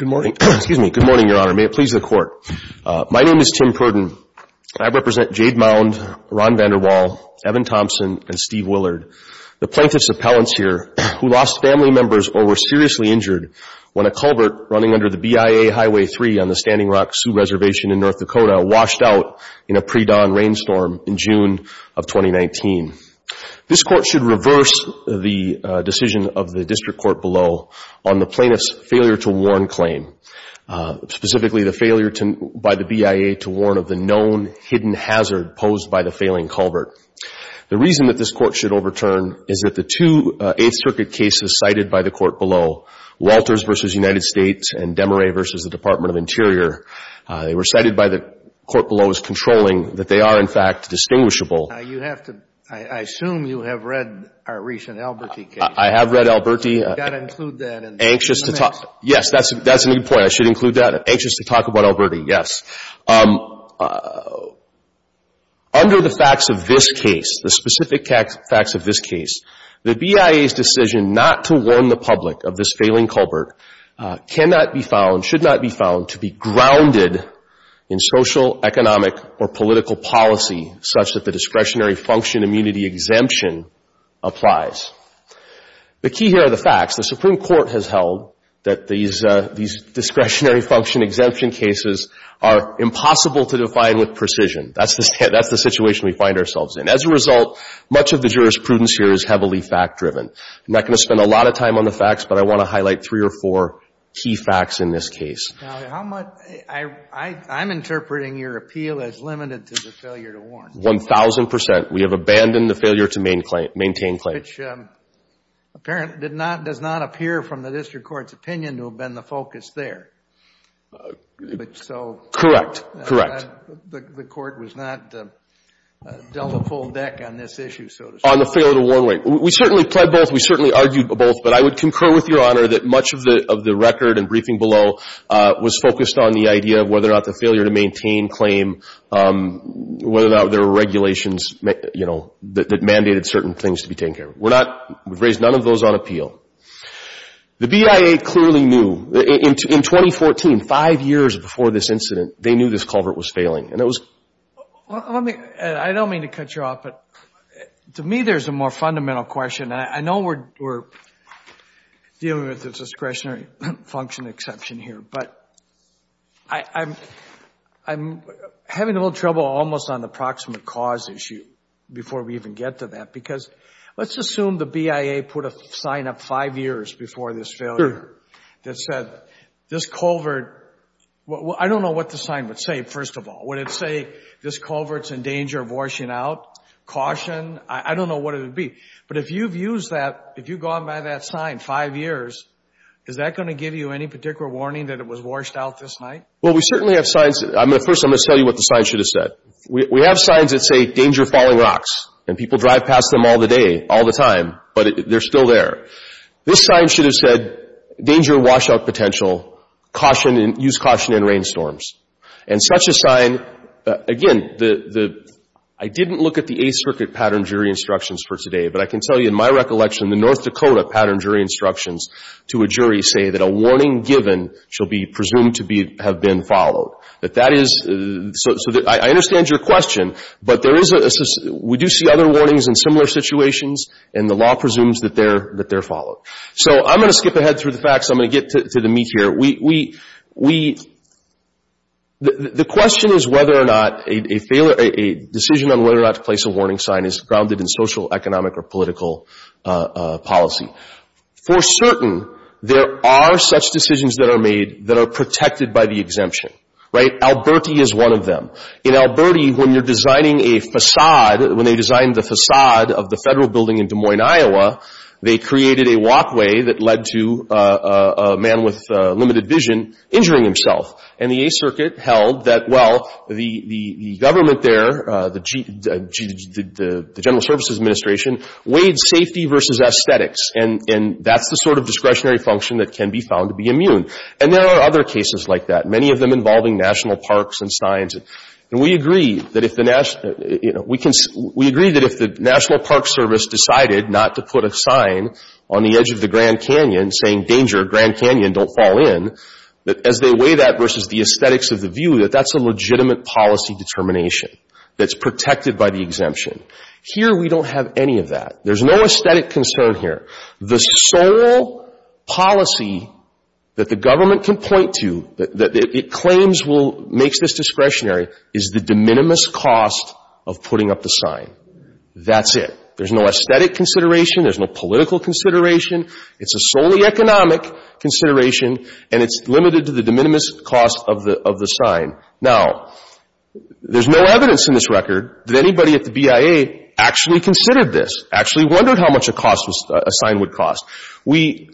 Good morning, your honor. May it please the court. My name is Tim Pruden. I represent Jade Mound, Ron VanderWaal, Evan Thompson, and Steve Willard, the plaintiff's appellants here who lost family members or were seriously injured when a culvert running under the BIA Highway 3 on the Standing Rock Sioux Reservation in North Dakota washed out in a pre-dawn rainstorm in June of 2019. This court should reverse the decision of the district court below on the plaintiff's failure to warn claim, specifically the failure by the BIA to warn of the known hidden hazard posed by the failing culvert. The reason that this court should overturn is that the two Eighth Circuit cases cited by the court below, Walters v. United States and Demaret v. the Department of Interior, they were cited by the court below as controlling that they are, in fact, distinguishable. Now, you have to — I assume you have read our recent Alberti case. I have read Alberti. You've got to include that in the mix. Anxious to talk — yes, that's a good point. I should include that. Anxious to talk about it. So, under the facts of this case, the specific facts of this case, the BIA's decision not to warn the public of this failing culvert cannot be found, should not be found, to be grounded in social, economic, or political policy such that the discretionary function immunity exemption applies. The key here are the facts. The Supreme Court has held that these discretionary function exemption cases are impossible to define with precision. That's the — that's the situation we find ourselves in. As a result, much of the jurisprudence here is heavily fact-driven. I'm not going to spend a lot of time on the facts, but I want to highlight three or four key facts in this case. Now, how much — I'm interpreting your appeal as limited to the failure to warn. 1,000 percent. We have abandoned the failure to maintain claim. Which, apparent, did not — does not appear from the district court's opinion to have been the focus there. But so — Correct. Correct. The court was not dealt a full deck on this issue, so to speak. On the failure to warn. We certainly pled both. We certainly argued both. But I would concur with Your Honor that much of the — of the record and briefing below was focused on the idea of whether or not the failure to maintain claim, whether or not there were regulations, you know, that mandated certain things to be taken care of. We're not — we've raised none of those on appeal. The BIA clearly knew — in 2014, five years before this incident, they knew this culvert was failing. And it was — Well, let me — I don't mean to cut you off, but to me there's a more fundamental question. And I know we're dealing with a discretionary function exception here, but I'm — I'm having a little trouble almost on the proximate cause issue before we even get to that. Because let's assume the BIA put a sign up five years before this failure that said, this culvert — well, I don't know what the sign would say, first of all. Would it say, this culvert's in danger of washing out? Caution? I don't know what it would be. But if you've used that — if you've gone by that sign five years, is that going to give you any particular warning that it was washed out this night? Well, we certainly have signs — I'm going to — first, I'm going to tell you what the sign should have said. We have signs that say, danger, falling rocks. And people drive past them all the day, all the time, but they're still there. This sign should have said, danger, washout potential. Caution and — use caution in rainstorms. And such a sign — again, the — I didn't look at the Eighth Circuit pattern jury instructions for today, but I can tell you in my recollection, the North Dakota pattern jury instructions to a jury say that a warning given shall be presumed to be — have been followed. That is — so I understand your question, but there is a — we do see other warnings in similar situations, and the law presumes that they're — that they're followed. So I'm going to skip ahead through the facts. I'm going to get to the meat here. We — the question is whether or not a failure — a decision on whether or not to place a warning sign is grounded in social, economic, or political policy. For certain, there are such decisions that are made that are protected by the exemption. Right? Alberti is one of them. In Alberti, when you're designing a façade — when they designed the façade of the federal building in Des Moines, Iowa, they created a walkway that led to a man with limited vision injuring himself. And the Eighth Circuit held that, well, the government there, the General Services Administration, weighed safety versus aesthetics. And that's the sort of discretionary function that can be found to be immune. And there are other cases like that, many of them involving national parks and signs. And we agree that if the national — you know, we can — we agree that if the National Park Service decided not to put a sign on the edge of the Grand Canyon saying, danger, Grand Canyon, don't fall in, that as they weigh that versus the aesthetics of the view, that that's a legitimate policy determination that's protected by the exemption. Here we don't have any of that. There's no aesthetic concern here. The sole policy that the government can point to that it claims will — makes this discretionary is the de minimis cost of putting up the sign. That's it. There's no aesthetic consideration. There's no political consideration. It's a solely economic consideration. And it's limited to the de minimis cost of the sign. Now, there's no evidence in this record that anybody at the BIA actually considered this, actually wondered how much a cost was — a sign would cost. We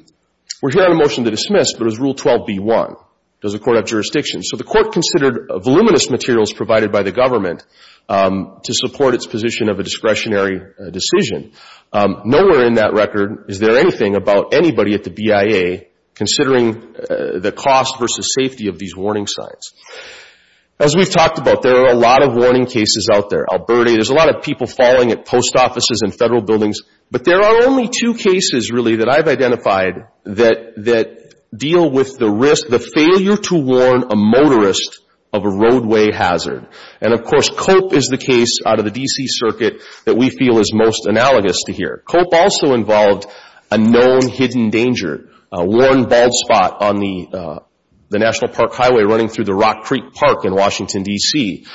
were here on a motion to dismiss, but it was Rule 12b-1. Does the court have jurisdiction? So the court considered voluminous materials provided by the government to support its position of a discretionary decision. Nowhere in that record is there anything about anybody at the BIA considering the cost versus safety of these warning signs. As we've talked about, there are a lot of warning cases out there. Alberta, there's a lot of people falling at post offices and federal buildings. But there are only two cases, really, that I've identified that deal with the risk — the failure to warn a motorist of a roadway hazard. And of course, COPE is the case out of the D.C. Circuit that we feel is most analogous to here. COPE also involved a known hidden danger, a worn, bald spot on the National Park Highway running through the Rock Creek Park in Washington, D.C.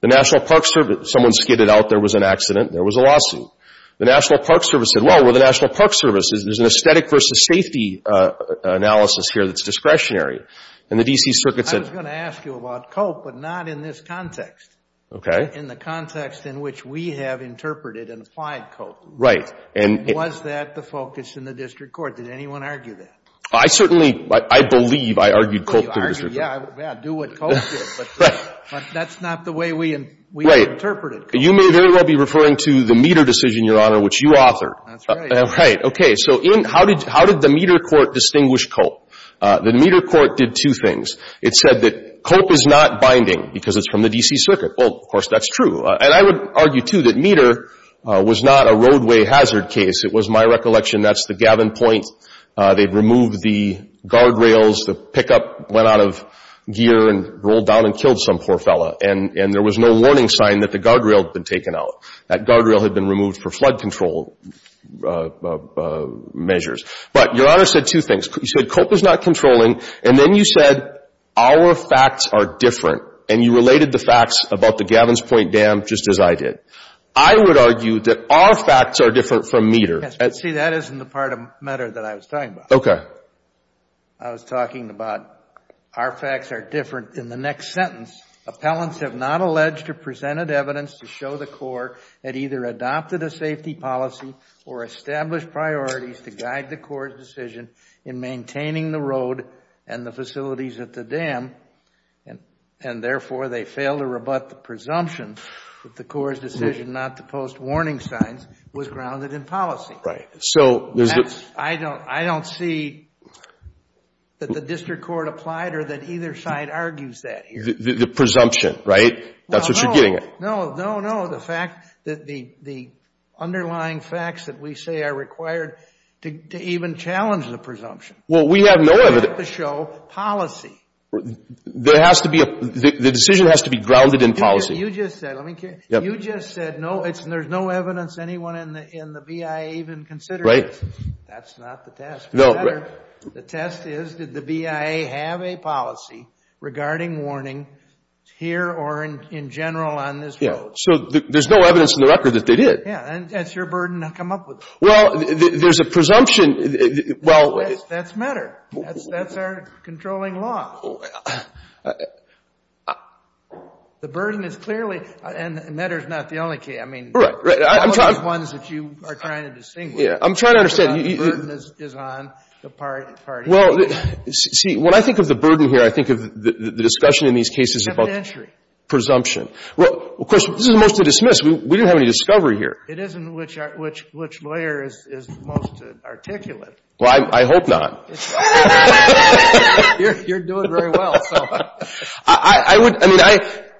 The National Park Service — someone skidded out. There was an accident. There was a lawsuit. The National Park Service said, well, we're the National Park Service. There's an aesthetic versus safety analysis here that's discretionary. And the D.C. Circuit said — I was going to ask you about COPE, but not in this context, in the context in which we have interpreted and applied COPE. Right. Was that the focus in the district court? Did anyone argue that? I certainly — I believe I argued COPE in the district court. You argued, yeah, do what COPE did. But that's not the way we interpreted COPE. You may very well be referring to the meter decision, Your Honor, which you authored. That's right. Right. Okay. So how did the meter court distinguish COPE? The meter court did two things. It said that COPE is not binding because it's from the D.C. Circuit. Well, of course, that's true. And I would argue, too, that meter was not a roadway hazard case. It was my recollection that's the Gavin Point. They'd removed the guardrails. The pickup went out of gear and rolled down and killed some poor fella. And there was no warning sign that the guardrail had been taken out. That guardrail had been removed for flood control measures. But Your Honor said two things. You said COPE is not controlling. And then you said our facts are different. And you related the facts about the Gavin Point Dam just as I did. I would argue that our facts are different from meter. See, that isn't the part of matter that I was talking about. Okay. I was talking about our facts are different. In the next sentence, appellants have not alleged or presented evidence to show the court had either adopted a safety policy or established priorities to guide the court's decision in maintaining the road and the facilities at the dam. And therefore, they failed to rebut the presumption that the court's decision not to post warning signs was grounded in policy. Right. So there's a... I don't see that the district court applied or that either side argues that here. The presumption, right? That's what you're getting at. No, no, no. The fact that the underlying facts that we say are required to even challenge the presumption. Well, we have no evidence... policy. There has to be a... the decision has to be grounded in policy. You just said, let me... You just said, no, there's no evidence anyone in the BIA even considers. Right. That's not the test. No, right. The test is, did the BIA have a policy regarding warning here or in general on this road? Yeah. So there's no evidence in the record that they did. Yeah. And that's your burden to come up with. Well, there's a presumption... That's MEDR. That's our controlling law. The burden is clearly... and MEDR is not the only key. I mean, all of the ones that you are trying to distinguish. Yeah. I'm trying to understand. The burden is on the parties. Well, see, when I think of the burden here, I think of the discussion in these cases about... Presumption. Presumption. Well, of course, this is mostly dismissed. We didn't have any discovery here. It isn't which lawyer is most articulate. Well, I hope not. You're doing very well. I would... I mean,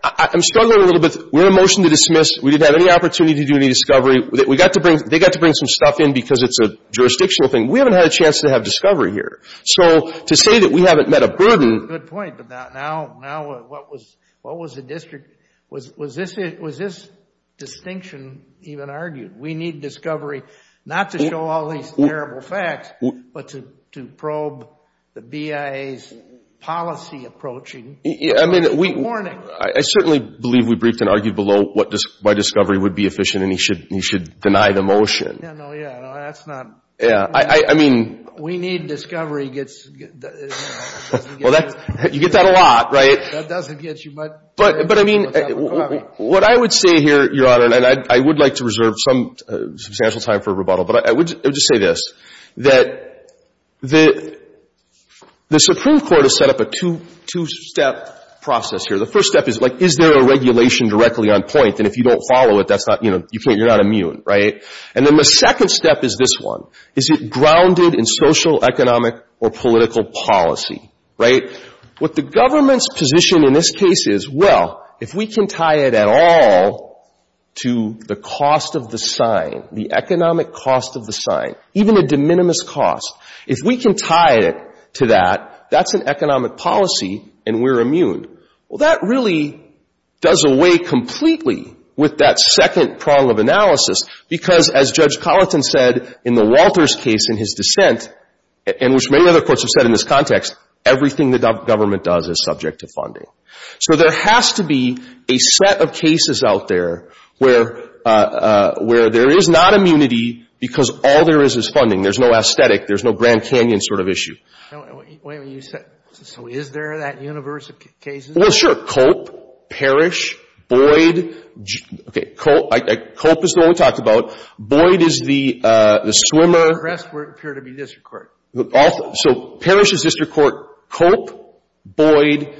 I'm struggling a little bit. We're in a motion to dismiss. We didn't have any opportunity to do any discovery. They got to bring some stuff in because it's a jurisdictional thing. We haven't had a chance to have discovery here. So to say that we haven't met a burden... Good point. But now, what was the district... Was this distinction even argued? We need discovery, not to show all these terrible facts, but to probe the BIA's policy approaching. I mean, we... Warning. I certainly believe we briefed and argued below why discovery would be efficient and he should deny the motion. Yeah, no, yeah, no, that's not... Yeah, I mean... We need discovery gets... Well, you get that a lot, right? That doesn't get you much... But, I mean, what I would say here, Your Honor, and I would like to reserve some substantial time for rebuttal, but I would just say this, that the Supreme Court has set up a two-step process here. The first step is, like, is there a regulation directly on point? And if you don't follow it, you're not immune, right? And then the second step is this one. Is it grounded in social, economic, or political policy, right? What the government's position in this case is, well, if we can tie it at all to the cost of the sign, the economic cost of the sign, even a de minimis cost, if we can tie it to that, that's an economic policy and we're immune. Well, that really does away completely with that second prong of analysis because, as Judge Colleton said in the Walters case in his dissent, and which many other courts have said in this context, everything the government does is subject to funding. So there has to be a set of cases out there where there is not immunity because all there is is funding. There's no aesthetic. There's no Grand Canyon sort of issue. Wait a minute. So is there that universe of cases? Well, sure. Culp, Parrish, Boyd. Okay. Culp is the one we talked about. Boyd is the swimmer. The rest appear to be district court. So Parrish is district court. Culp, Boyd.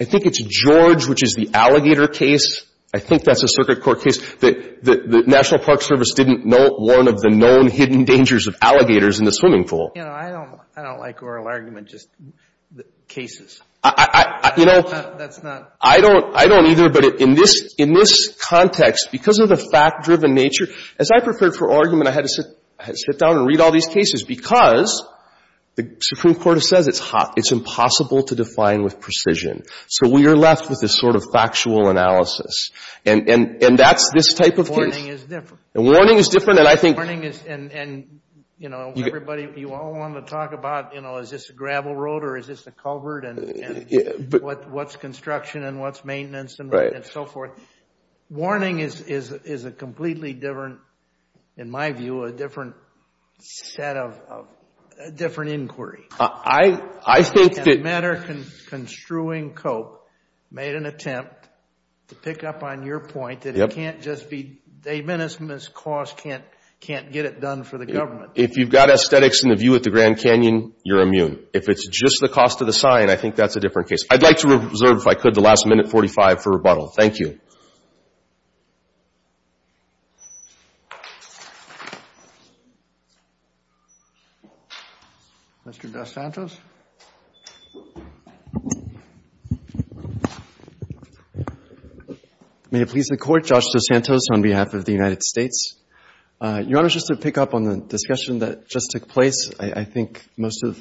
I think it's George, which is the alligator case. I think that's a circuit court case. The National Park Service didn't warn of the known hidden dangers of alligators in the swimming pool. I don't like oral argument, just cases. I don't either, but in this context, because of the fact-driven nature, as I preferred for argument, I had to sit down and read all these cases because the Supreme Court says it's impossible to define with precision. So we are left with this sort of factual analysis, and that's this type of case. Warning is different. Warning is different, and I think... Warning is, and, you know, everybody, you all want to talk about, you know, is this a gravel road or is this a culvert, and what's construction and what's maintenance and so forth. Warning is a completely different, in my view, a different set of, a different inquiry. I think that... And the matter construing Culp made an attempt to pick up on your point that it can't just be a menacing cost, can't get it done for the government. If you've got aesthetics in the view at the Grand Canyon, you're immune. If it's just the cost of the sign, I think that's a different case. I'd like to reserve, if I could, the last minute 45 for rebuttal. Thank you. Mr. Dos Santos? May it please the Court, Josh Dos Santos on behalf of the United States. Your Honor, just to pick up on the discussion that just took place, I think most of,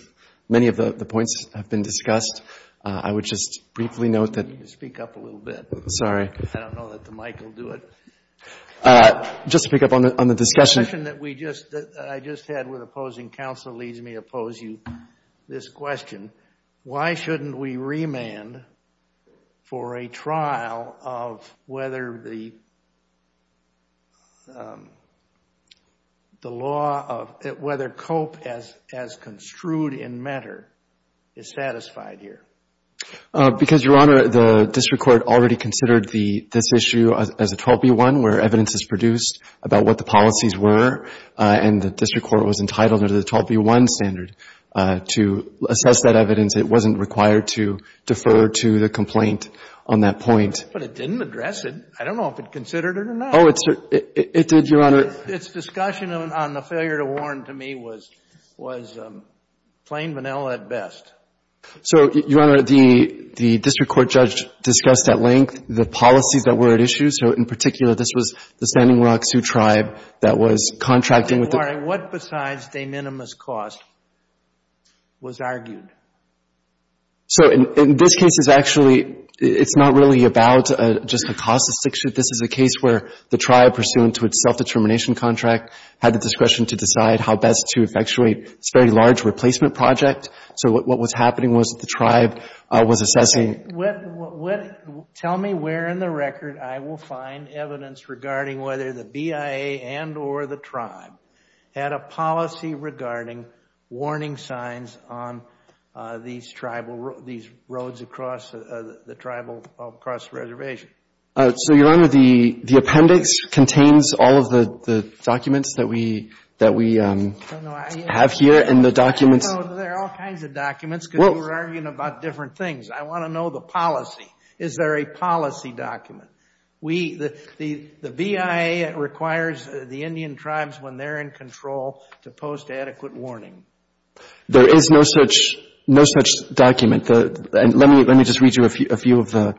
many of the points have been discussed. I would just briefly note that... You need to speak up a little bit. Sorry. I don't know that the mic will do it. Just to pick up on the discussion... The discussion that we just, that I just had with opposing counsel leads me to pose you this question. Why shouldn't we remand for a trial of whether the law of, whether COAP as construed in matter is satisfied here? Because, Your Honor, the district court already considered this issue as a 12b1, where evidence is produced about what the policies were, and the district court was entitled under the 12b1 standard to assess that evidence. It wasn't required to defer to the complaint on that point. But it didn't address it. I don't know if it considered it or not. Oh, it did, Your Honor. Its discussion on the failure to warn, to me, was plain vanilla at best. So, Your Honor, the district court judge discussed at length the policies that were at issue. So, in particular, this was the Standing Rock Sioux Tribe that was contracting with the... Your Honor, what besides de minimis cost was argued? So, in this case, it's actually, it's not really about just the cost of six years. This is a case where the tribe, pursuant to its self-determination contract, had the discretion to decide how best to effectuate its very large replacement project. So, what was happening was that the tribe was assessing... Tell me where in the record I will find evidence regarding whether the BIA and or the tribe had a policy regarding warning signs on these tribal, these roads across, the tribal, across the reservation. So, Your Honor, the appendix contains all of the documents that we, that we have here and the documents... No, there are all kinds of documents because we're arguing about different things. I want to know the policy. Is there a policy document? We, the BIA requires the Indian tribes, when they're in control, to post adequate warning. There is no such, no such document. Let me, let me just read you a few of the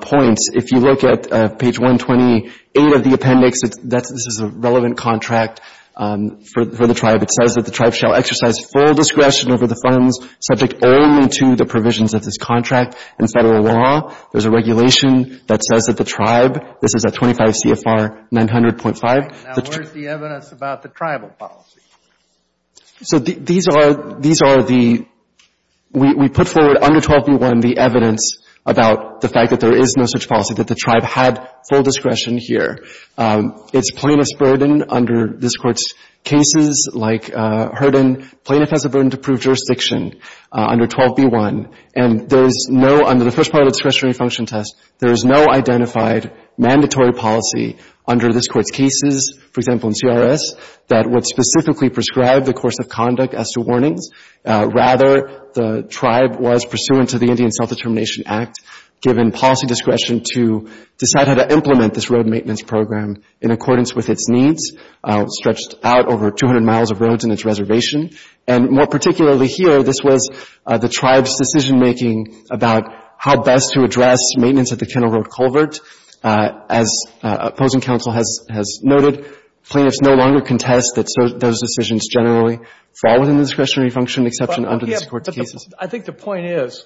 points. If you look at page 128 of the appendix, this is a relevant contract for the tribe. It says that the tribe shall exercise full discretion over the funds subject only to the provisions of this contract and federal law. There's a regulation that says that the tribe, this is at 25 CFR 900.5. Now, where's the evidence about the tribal policy? So these are, these are the, we put forward under 12b1 the evidence about the fact that there is no such policy, that the tribe had full discretion here. It's plaintiff's burden under this Court's cases, like Hurden, plaintiff has a burden to prove jurisdiction under 12b1. And there is no, under the first part of the discretionary function test, there is no identified mandatory policy under this Court's cases, for example, in CRS, that would specifically prescribe the course of conduct as to warnings. Rather, the tribe was pursuant to the Indian Self-Determination Act, given policy discretion to decide how to implement this road maintenance program in accordance with its needs, stretched out over 200 miles of roads in its reservation. And more particularly here, this was the tribe's decision-making about how best to address maintenance at the Kennel Road culvert. As opposing counsel has noted, plaintiffs no longer contest that those decisions generally fall within the discretionary function exception under this Court's cases. But I think the point is,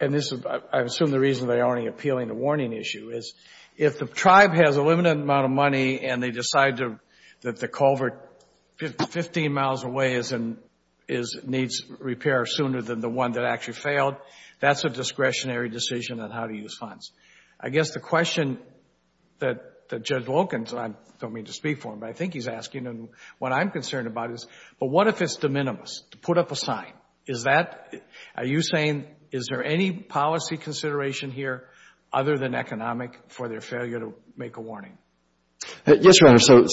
and this is, I assume the reason they aren't appealing the warning issue, is if the tribe has a limited amount of money and they decide that the culvert 15 miles away needs repair sooner than the one that actually failed, that's a discretionary decision on how to use funds. I guess the question that Judge Wilkins, and I don't mean to speak for him, but I think he's asking, and what I'm concerned about is, but what if it's de minimis, to put up a sign? Is that, are you saying, is there any policy consideration here other than economic for their failure to make a warning? Yes, Your Honor. So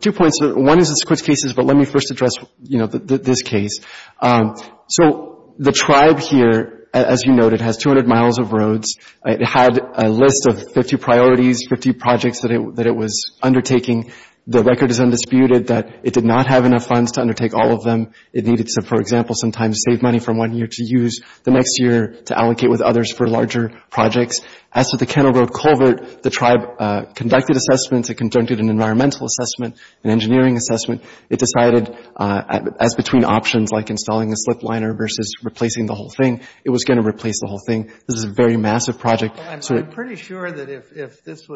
two points. One is this Court's cases, but let me first address, you know, this case. So the tribe here, as you noted, has 200 miles of roads. It had a list of 50 priorities, 50 projects that it was undertaking. The record is undisputed that it did not have enough funds to undertake all of them. It needed to, for example, sometimes save money from one year to use the next year to allocate with others for larger projects. As for the Kennel Road culvert, the tribe conducted assessments, it conducted an environmental assessment, an engineering assessment. It decided, as between options like installing a slip liner versus replacing the whole thing, it was going to replace the whole thing. This is a very massive project. I'm pretty sure that if this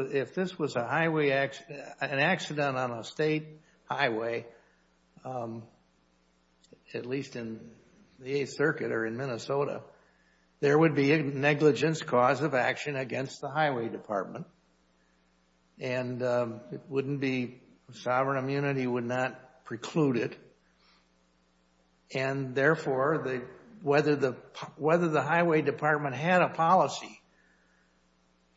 was a highway, an accident on a state highway, at least in the Eighth Circuit or in Minnesota, there would be a negligence cause of action against the highway department. And it wouldn't be, sovereign immunity would not preclude it. And therefore, whether the highway department had a policy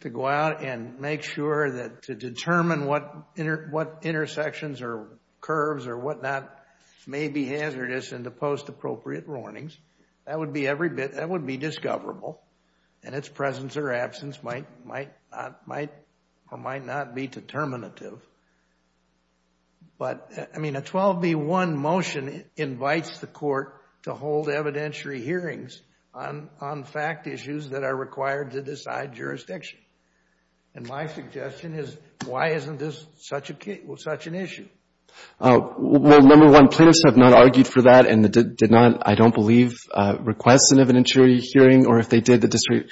to go out and make sure that to determine what intersections or curves or what not may be hazardous in the post-appropriate warnings, that would be every bit, that would be discoverable. And its presence or absence might or might not be determinative. But, I mean, a 12B1 motion invites the court to hold evidentiary hearings on fact issues that are required to decide jurisdiction. And my suggestion is, why isn't this such an issue? Well, number one, plaintiffs have not argued for that and did not, I don't believe, request an evidentiary hearing. Or if they did, the district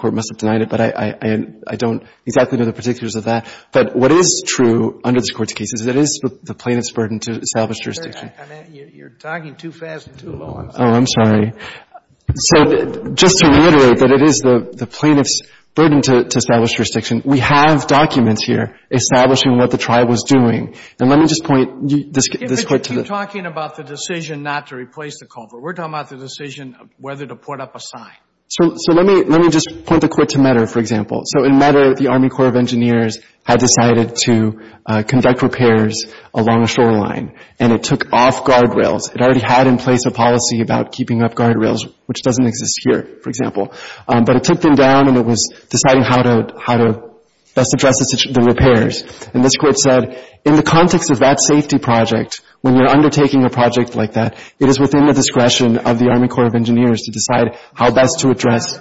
court must have denied it. But I don't exactly know the particulars of that. But what is true under this Court's case is that it is the plaintiff's burden to establish jurisdiction. You're talking too fast and too long. Oh, I'm sorry. So just to reiterate that it is the plaintiff's burden to establish jurisdiction, we have documents here establishing what the trial was doing. And let me just point this Court to the... You're talking about the decision not to replace the culvert. We're talking about the decision of whether to put up a sign. So let me just point the Court to Medder, for example. So in Medder, the Army Corps of Engineers had decided to conduct repairs along a shoreline, and it took off guardrails. It already had in place a policy about keeping off guardrails, which doesn't exist here, for example. But it took them down, and it was deciding how to best address the repairs. And this Court said, in the context of that safety project, when you're undertaking a project like that, it is within the discretion of the Army Corps of Engineers to decide how best to address...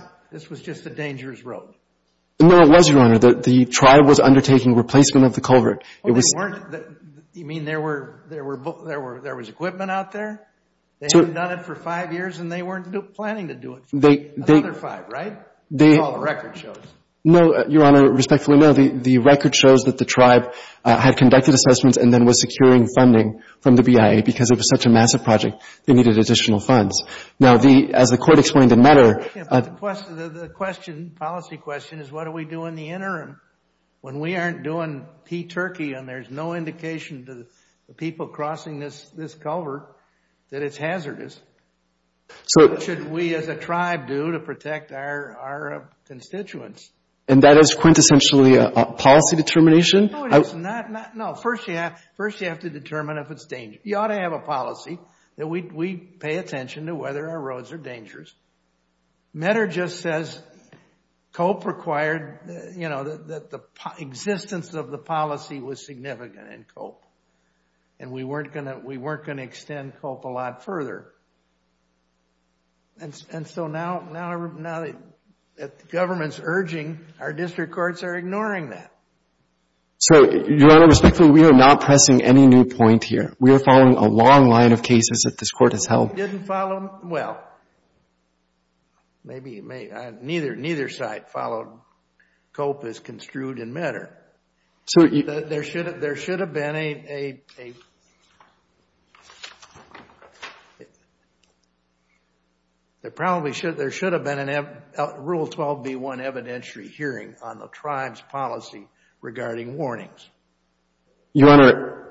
No, it was, Your Honor. The tribe was undertaking replacement of the culvert. You mean there was equipment out there? They hadn't done it for five years, and they weren't planning to do it for another five, right? That's all the record shows. No, Your Honor, respectfully, no. The record shows that the tribe had conducted assessments and then was securing funding from the BIA because it was such a massive project, they needed additional funds. Now, as the Court explained in Medder... The policy question is, what do we do in the interim? When we aren't doing P-Turkey, and there's no indication to the people crossing this culvert that it's hazardous, what should we as a tribe do to protect our constituents? And that is quintessentially a policy determination? No, first you have to determine if it's dangerous. You ought to have a policy that we pay attention to whether our roads are dangerous. Medder just says COPE required... You know, that the existence of the policy was significant in COPE. And we weren't going to extend COPE a lot further. And so now that the government's urging, our district courts are ignoring that. So, Your Honor, respectfully, we are not pressing any new point here. We are following a long line of cases that this Court has held. It didn't follow... Well, maybe it may... Neither side followed COPE as construed in Medder. There should have been a... There probably should have been a Rule 12b1 evidentiary hearing on the tribe's policy regarding warnings. Your Honor,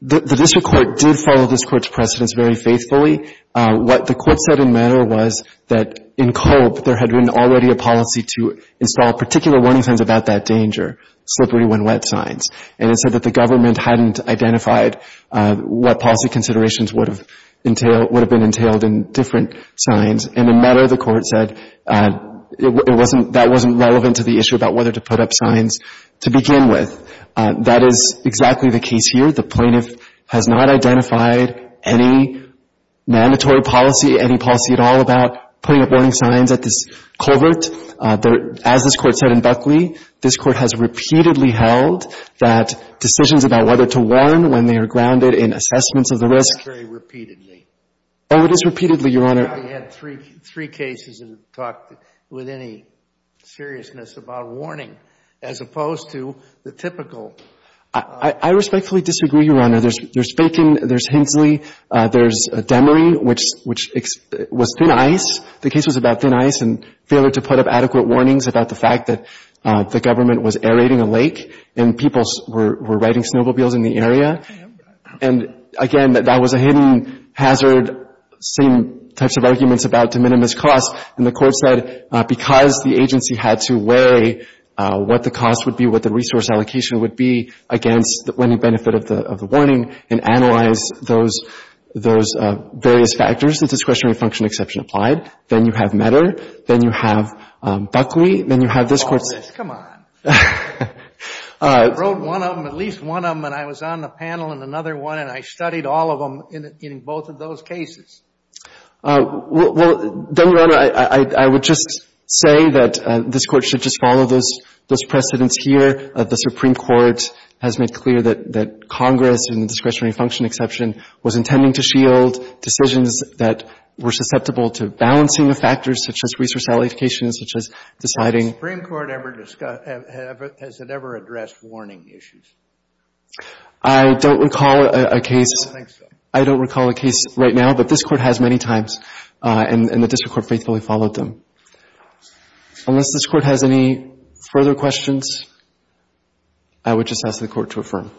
the district court did follow this Court's precedence very faithfully. What the Court said in Medder was that in COPE there had been already a policy to install particular warning signs about that danger, slippery when wet signs. And it said that the government hadn't identified what policy considerations would have entailed, would have been entailed in different signs. And in Medder, the Court said it wasn't, that wasn't relevant to the issue about whether to put up signs to begin with. That is exactly the case here. The plaintiff has not identified any mandatory policy, any policy at all about putting up warning signs at this culvert. As this Court said in Buckley, this Court has repeatedly held that decisions about whether to warn when they are grounded in assessments of the risk... Oh, it is repeatedly, Your Honor. ...three cases that have talked with any seriousness about warning as opposed to the typical... I respectfully disagree, Your Honor. There's Faking, there's Hensley, there's Demery, which was thin ice. The case was about thin ice and failure to put up adequate warnings about the fact that the government was aerating a lake and people were riding snowmobiles in the area. And, again, that was a hidden hazard, same types of arguments about de minimis costs. And the Court said because the agency had to weigh what the cost would be, what the resource allocation would be against any benefit of the warning and analyze those various factors, the discretionary function exception applied. Then you have Medder. Then you have Buckley. Then you have this Court's... Oh, please, come on. I wrote one of them, at least one of them, and I was on the panel in another one, and I studied all of them in both of those cases. Well, then, Your Honor, I would just say that this Court should just follow those precedents here. The Supreme Court has made clear that Congress in the discretionary function exception was intending to shield decisions that were susceptible to balancing the factors such as resource allocation, such as deciding... Has it ever addressed warning issues? I don't recall a case... I don't think so. I don't recall a case right now, but this Court has many times, and the District Court faithfully followed them. Unless this Court has any further questions, I would just ask the Court to affirm.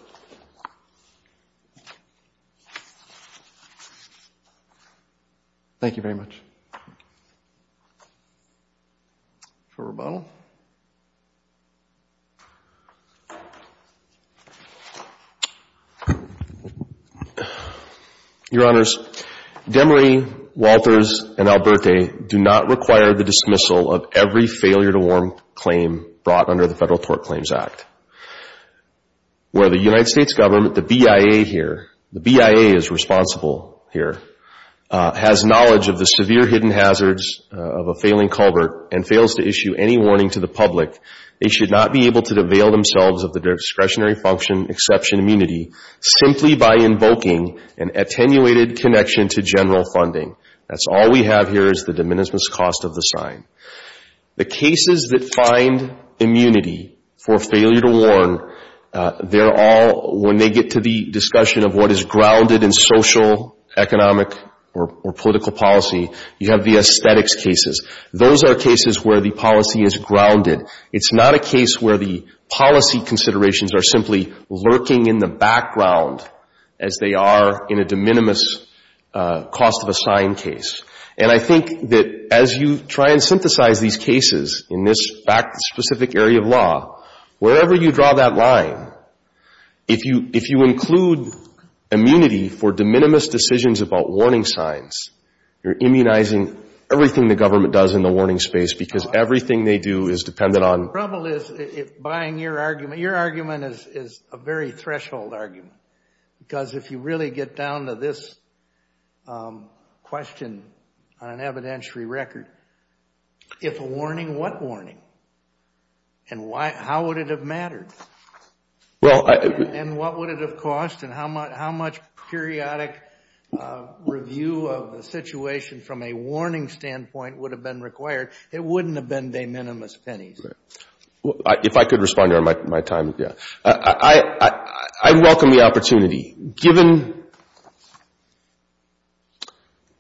Thank you very much. Thank you. For rebuttal. Your Honors, Demery, Walters, and Alberti do not require the dismissal of every failure to warn claim brought under the Federal Tort Claims Act. Where the United States government, the BIA here, the BIA is responsible here, has knowledge of the severe hidden hazards of a failing culvert and fails to issue any warning to the public, they should not be able to avail themselves of the discretionary function exception immunity simply by invoking an attenuated connection to general funding. That's all we have here is the de minimis cost of the sign. The cases that find immunity for failure to warn, they're all, when they get to the discussion of what is grounded in social, economic, or political policy, you have the aesthetics cases. Those are cases where the policy is grounded. It's not a case where the policy considerations are simply lurking in the background as they are in a de minimis cost of a sign case. And I think that as you try and synthesize these cases in this fact-specific area of law, wherever you draw that line, if you include immunity for de minimis decisions about warning signs, you're immunizing everything the government does in the warning space because everything they do is dependent on The trouble is, buying your argument, your argument is a very threshold argument because if you really get down to this question on an evidentiary record, if a warning, what warning? And how would it have mattered? And what would it have cost? And how much periodic review of the situation from a warning standpoint would have been required? It wouldn't have been de minimis pennies. If I could respond during my time, yeah. I welcome the opportunity. Given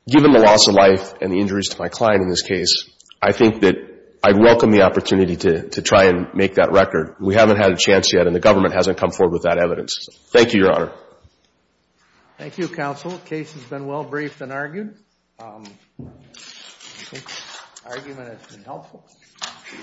the loss of life and the injuries to my client in this case, I think that I'd welcome the opportunity to try and make that record. We haven't had a chance yet and the government hasn't come forward with that evidence. Thank you, Your Honor. Thank you, Counsel. The case has been well briefed and argued. I think the argument has been helpful.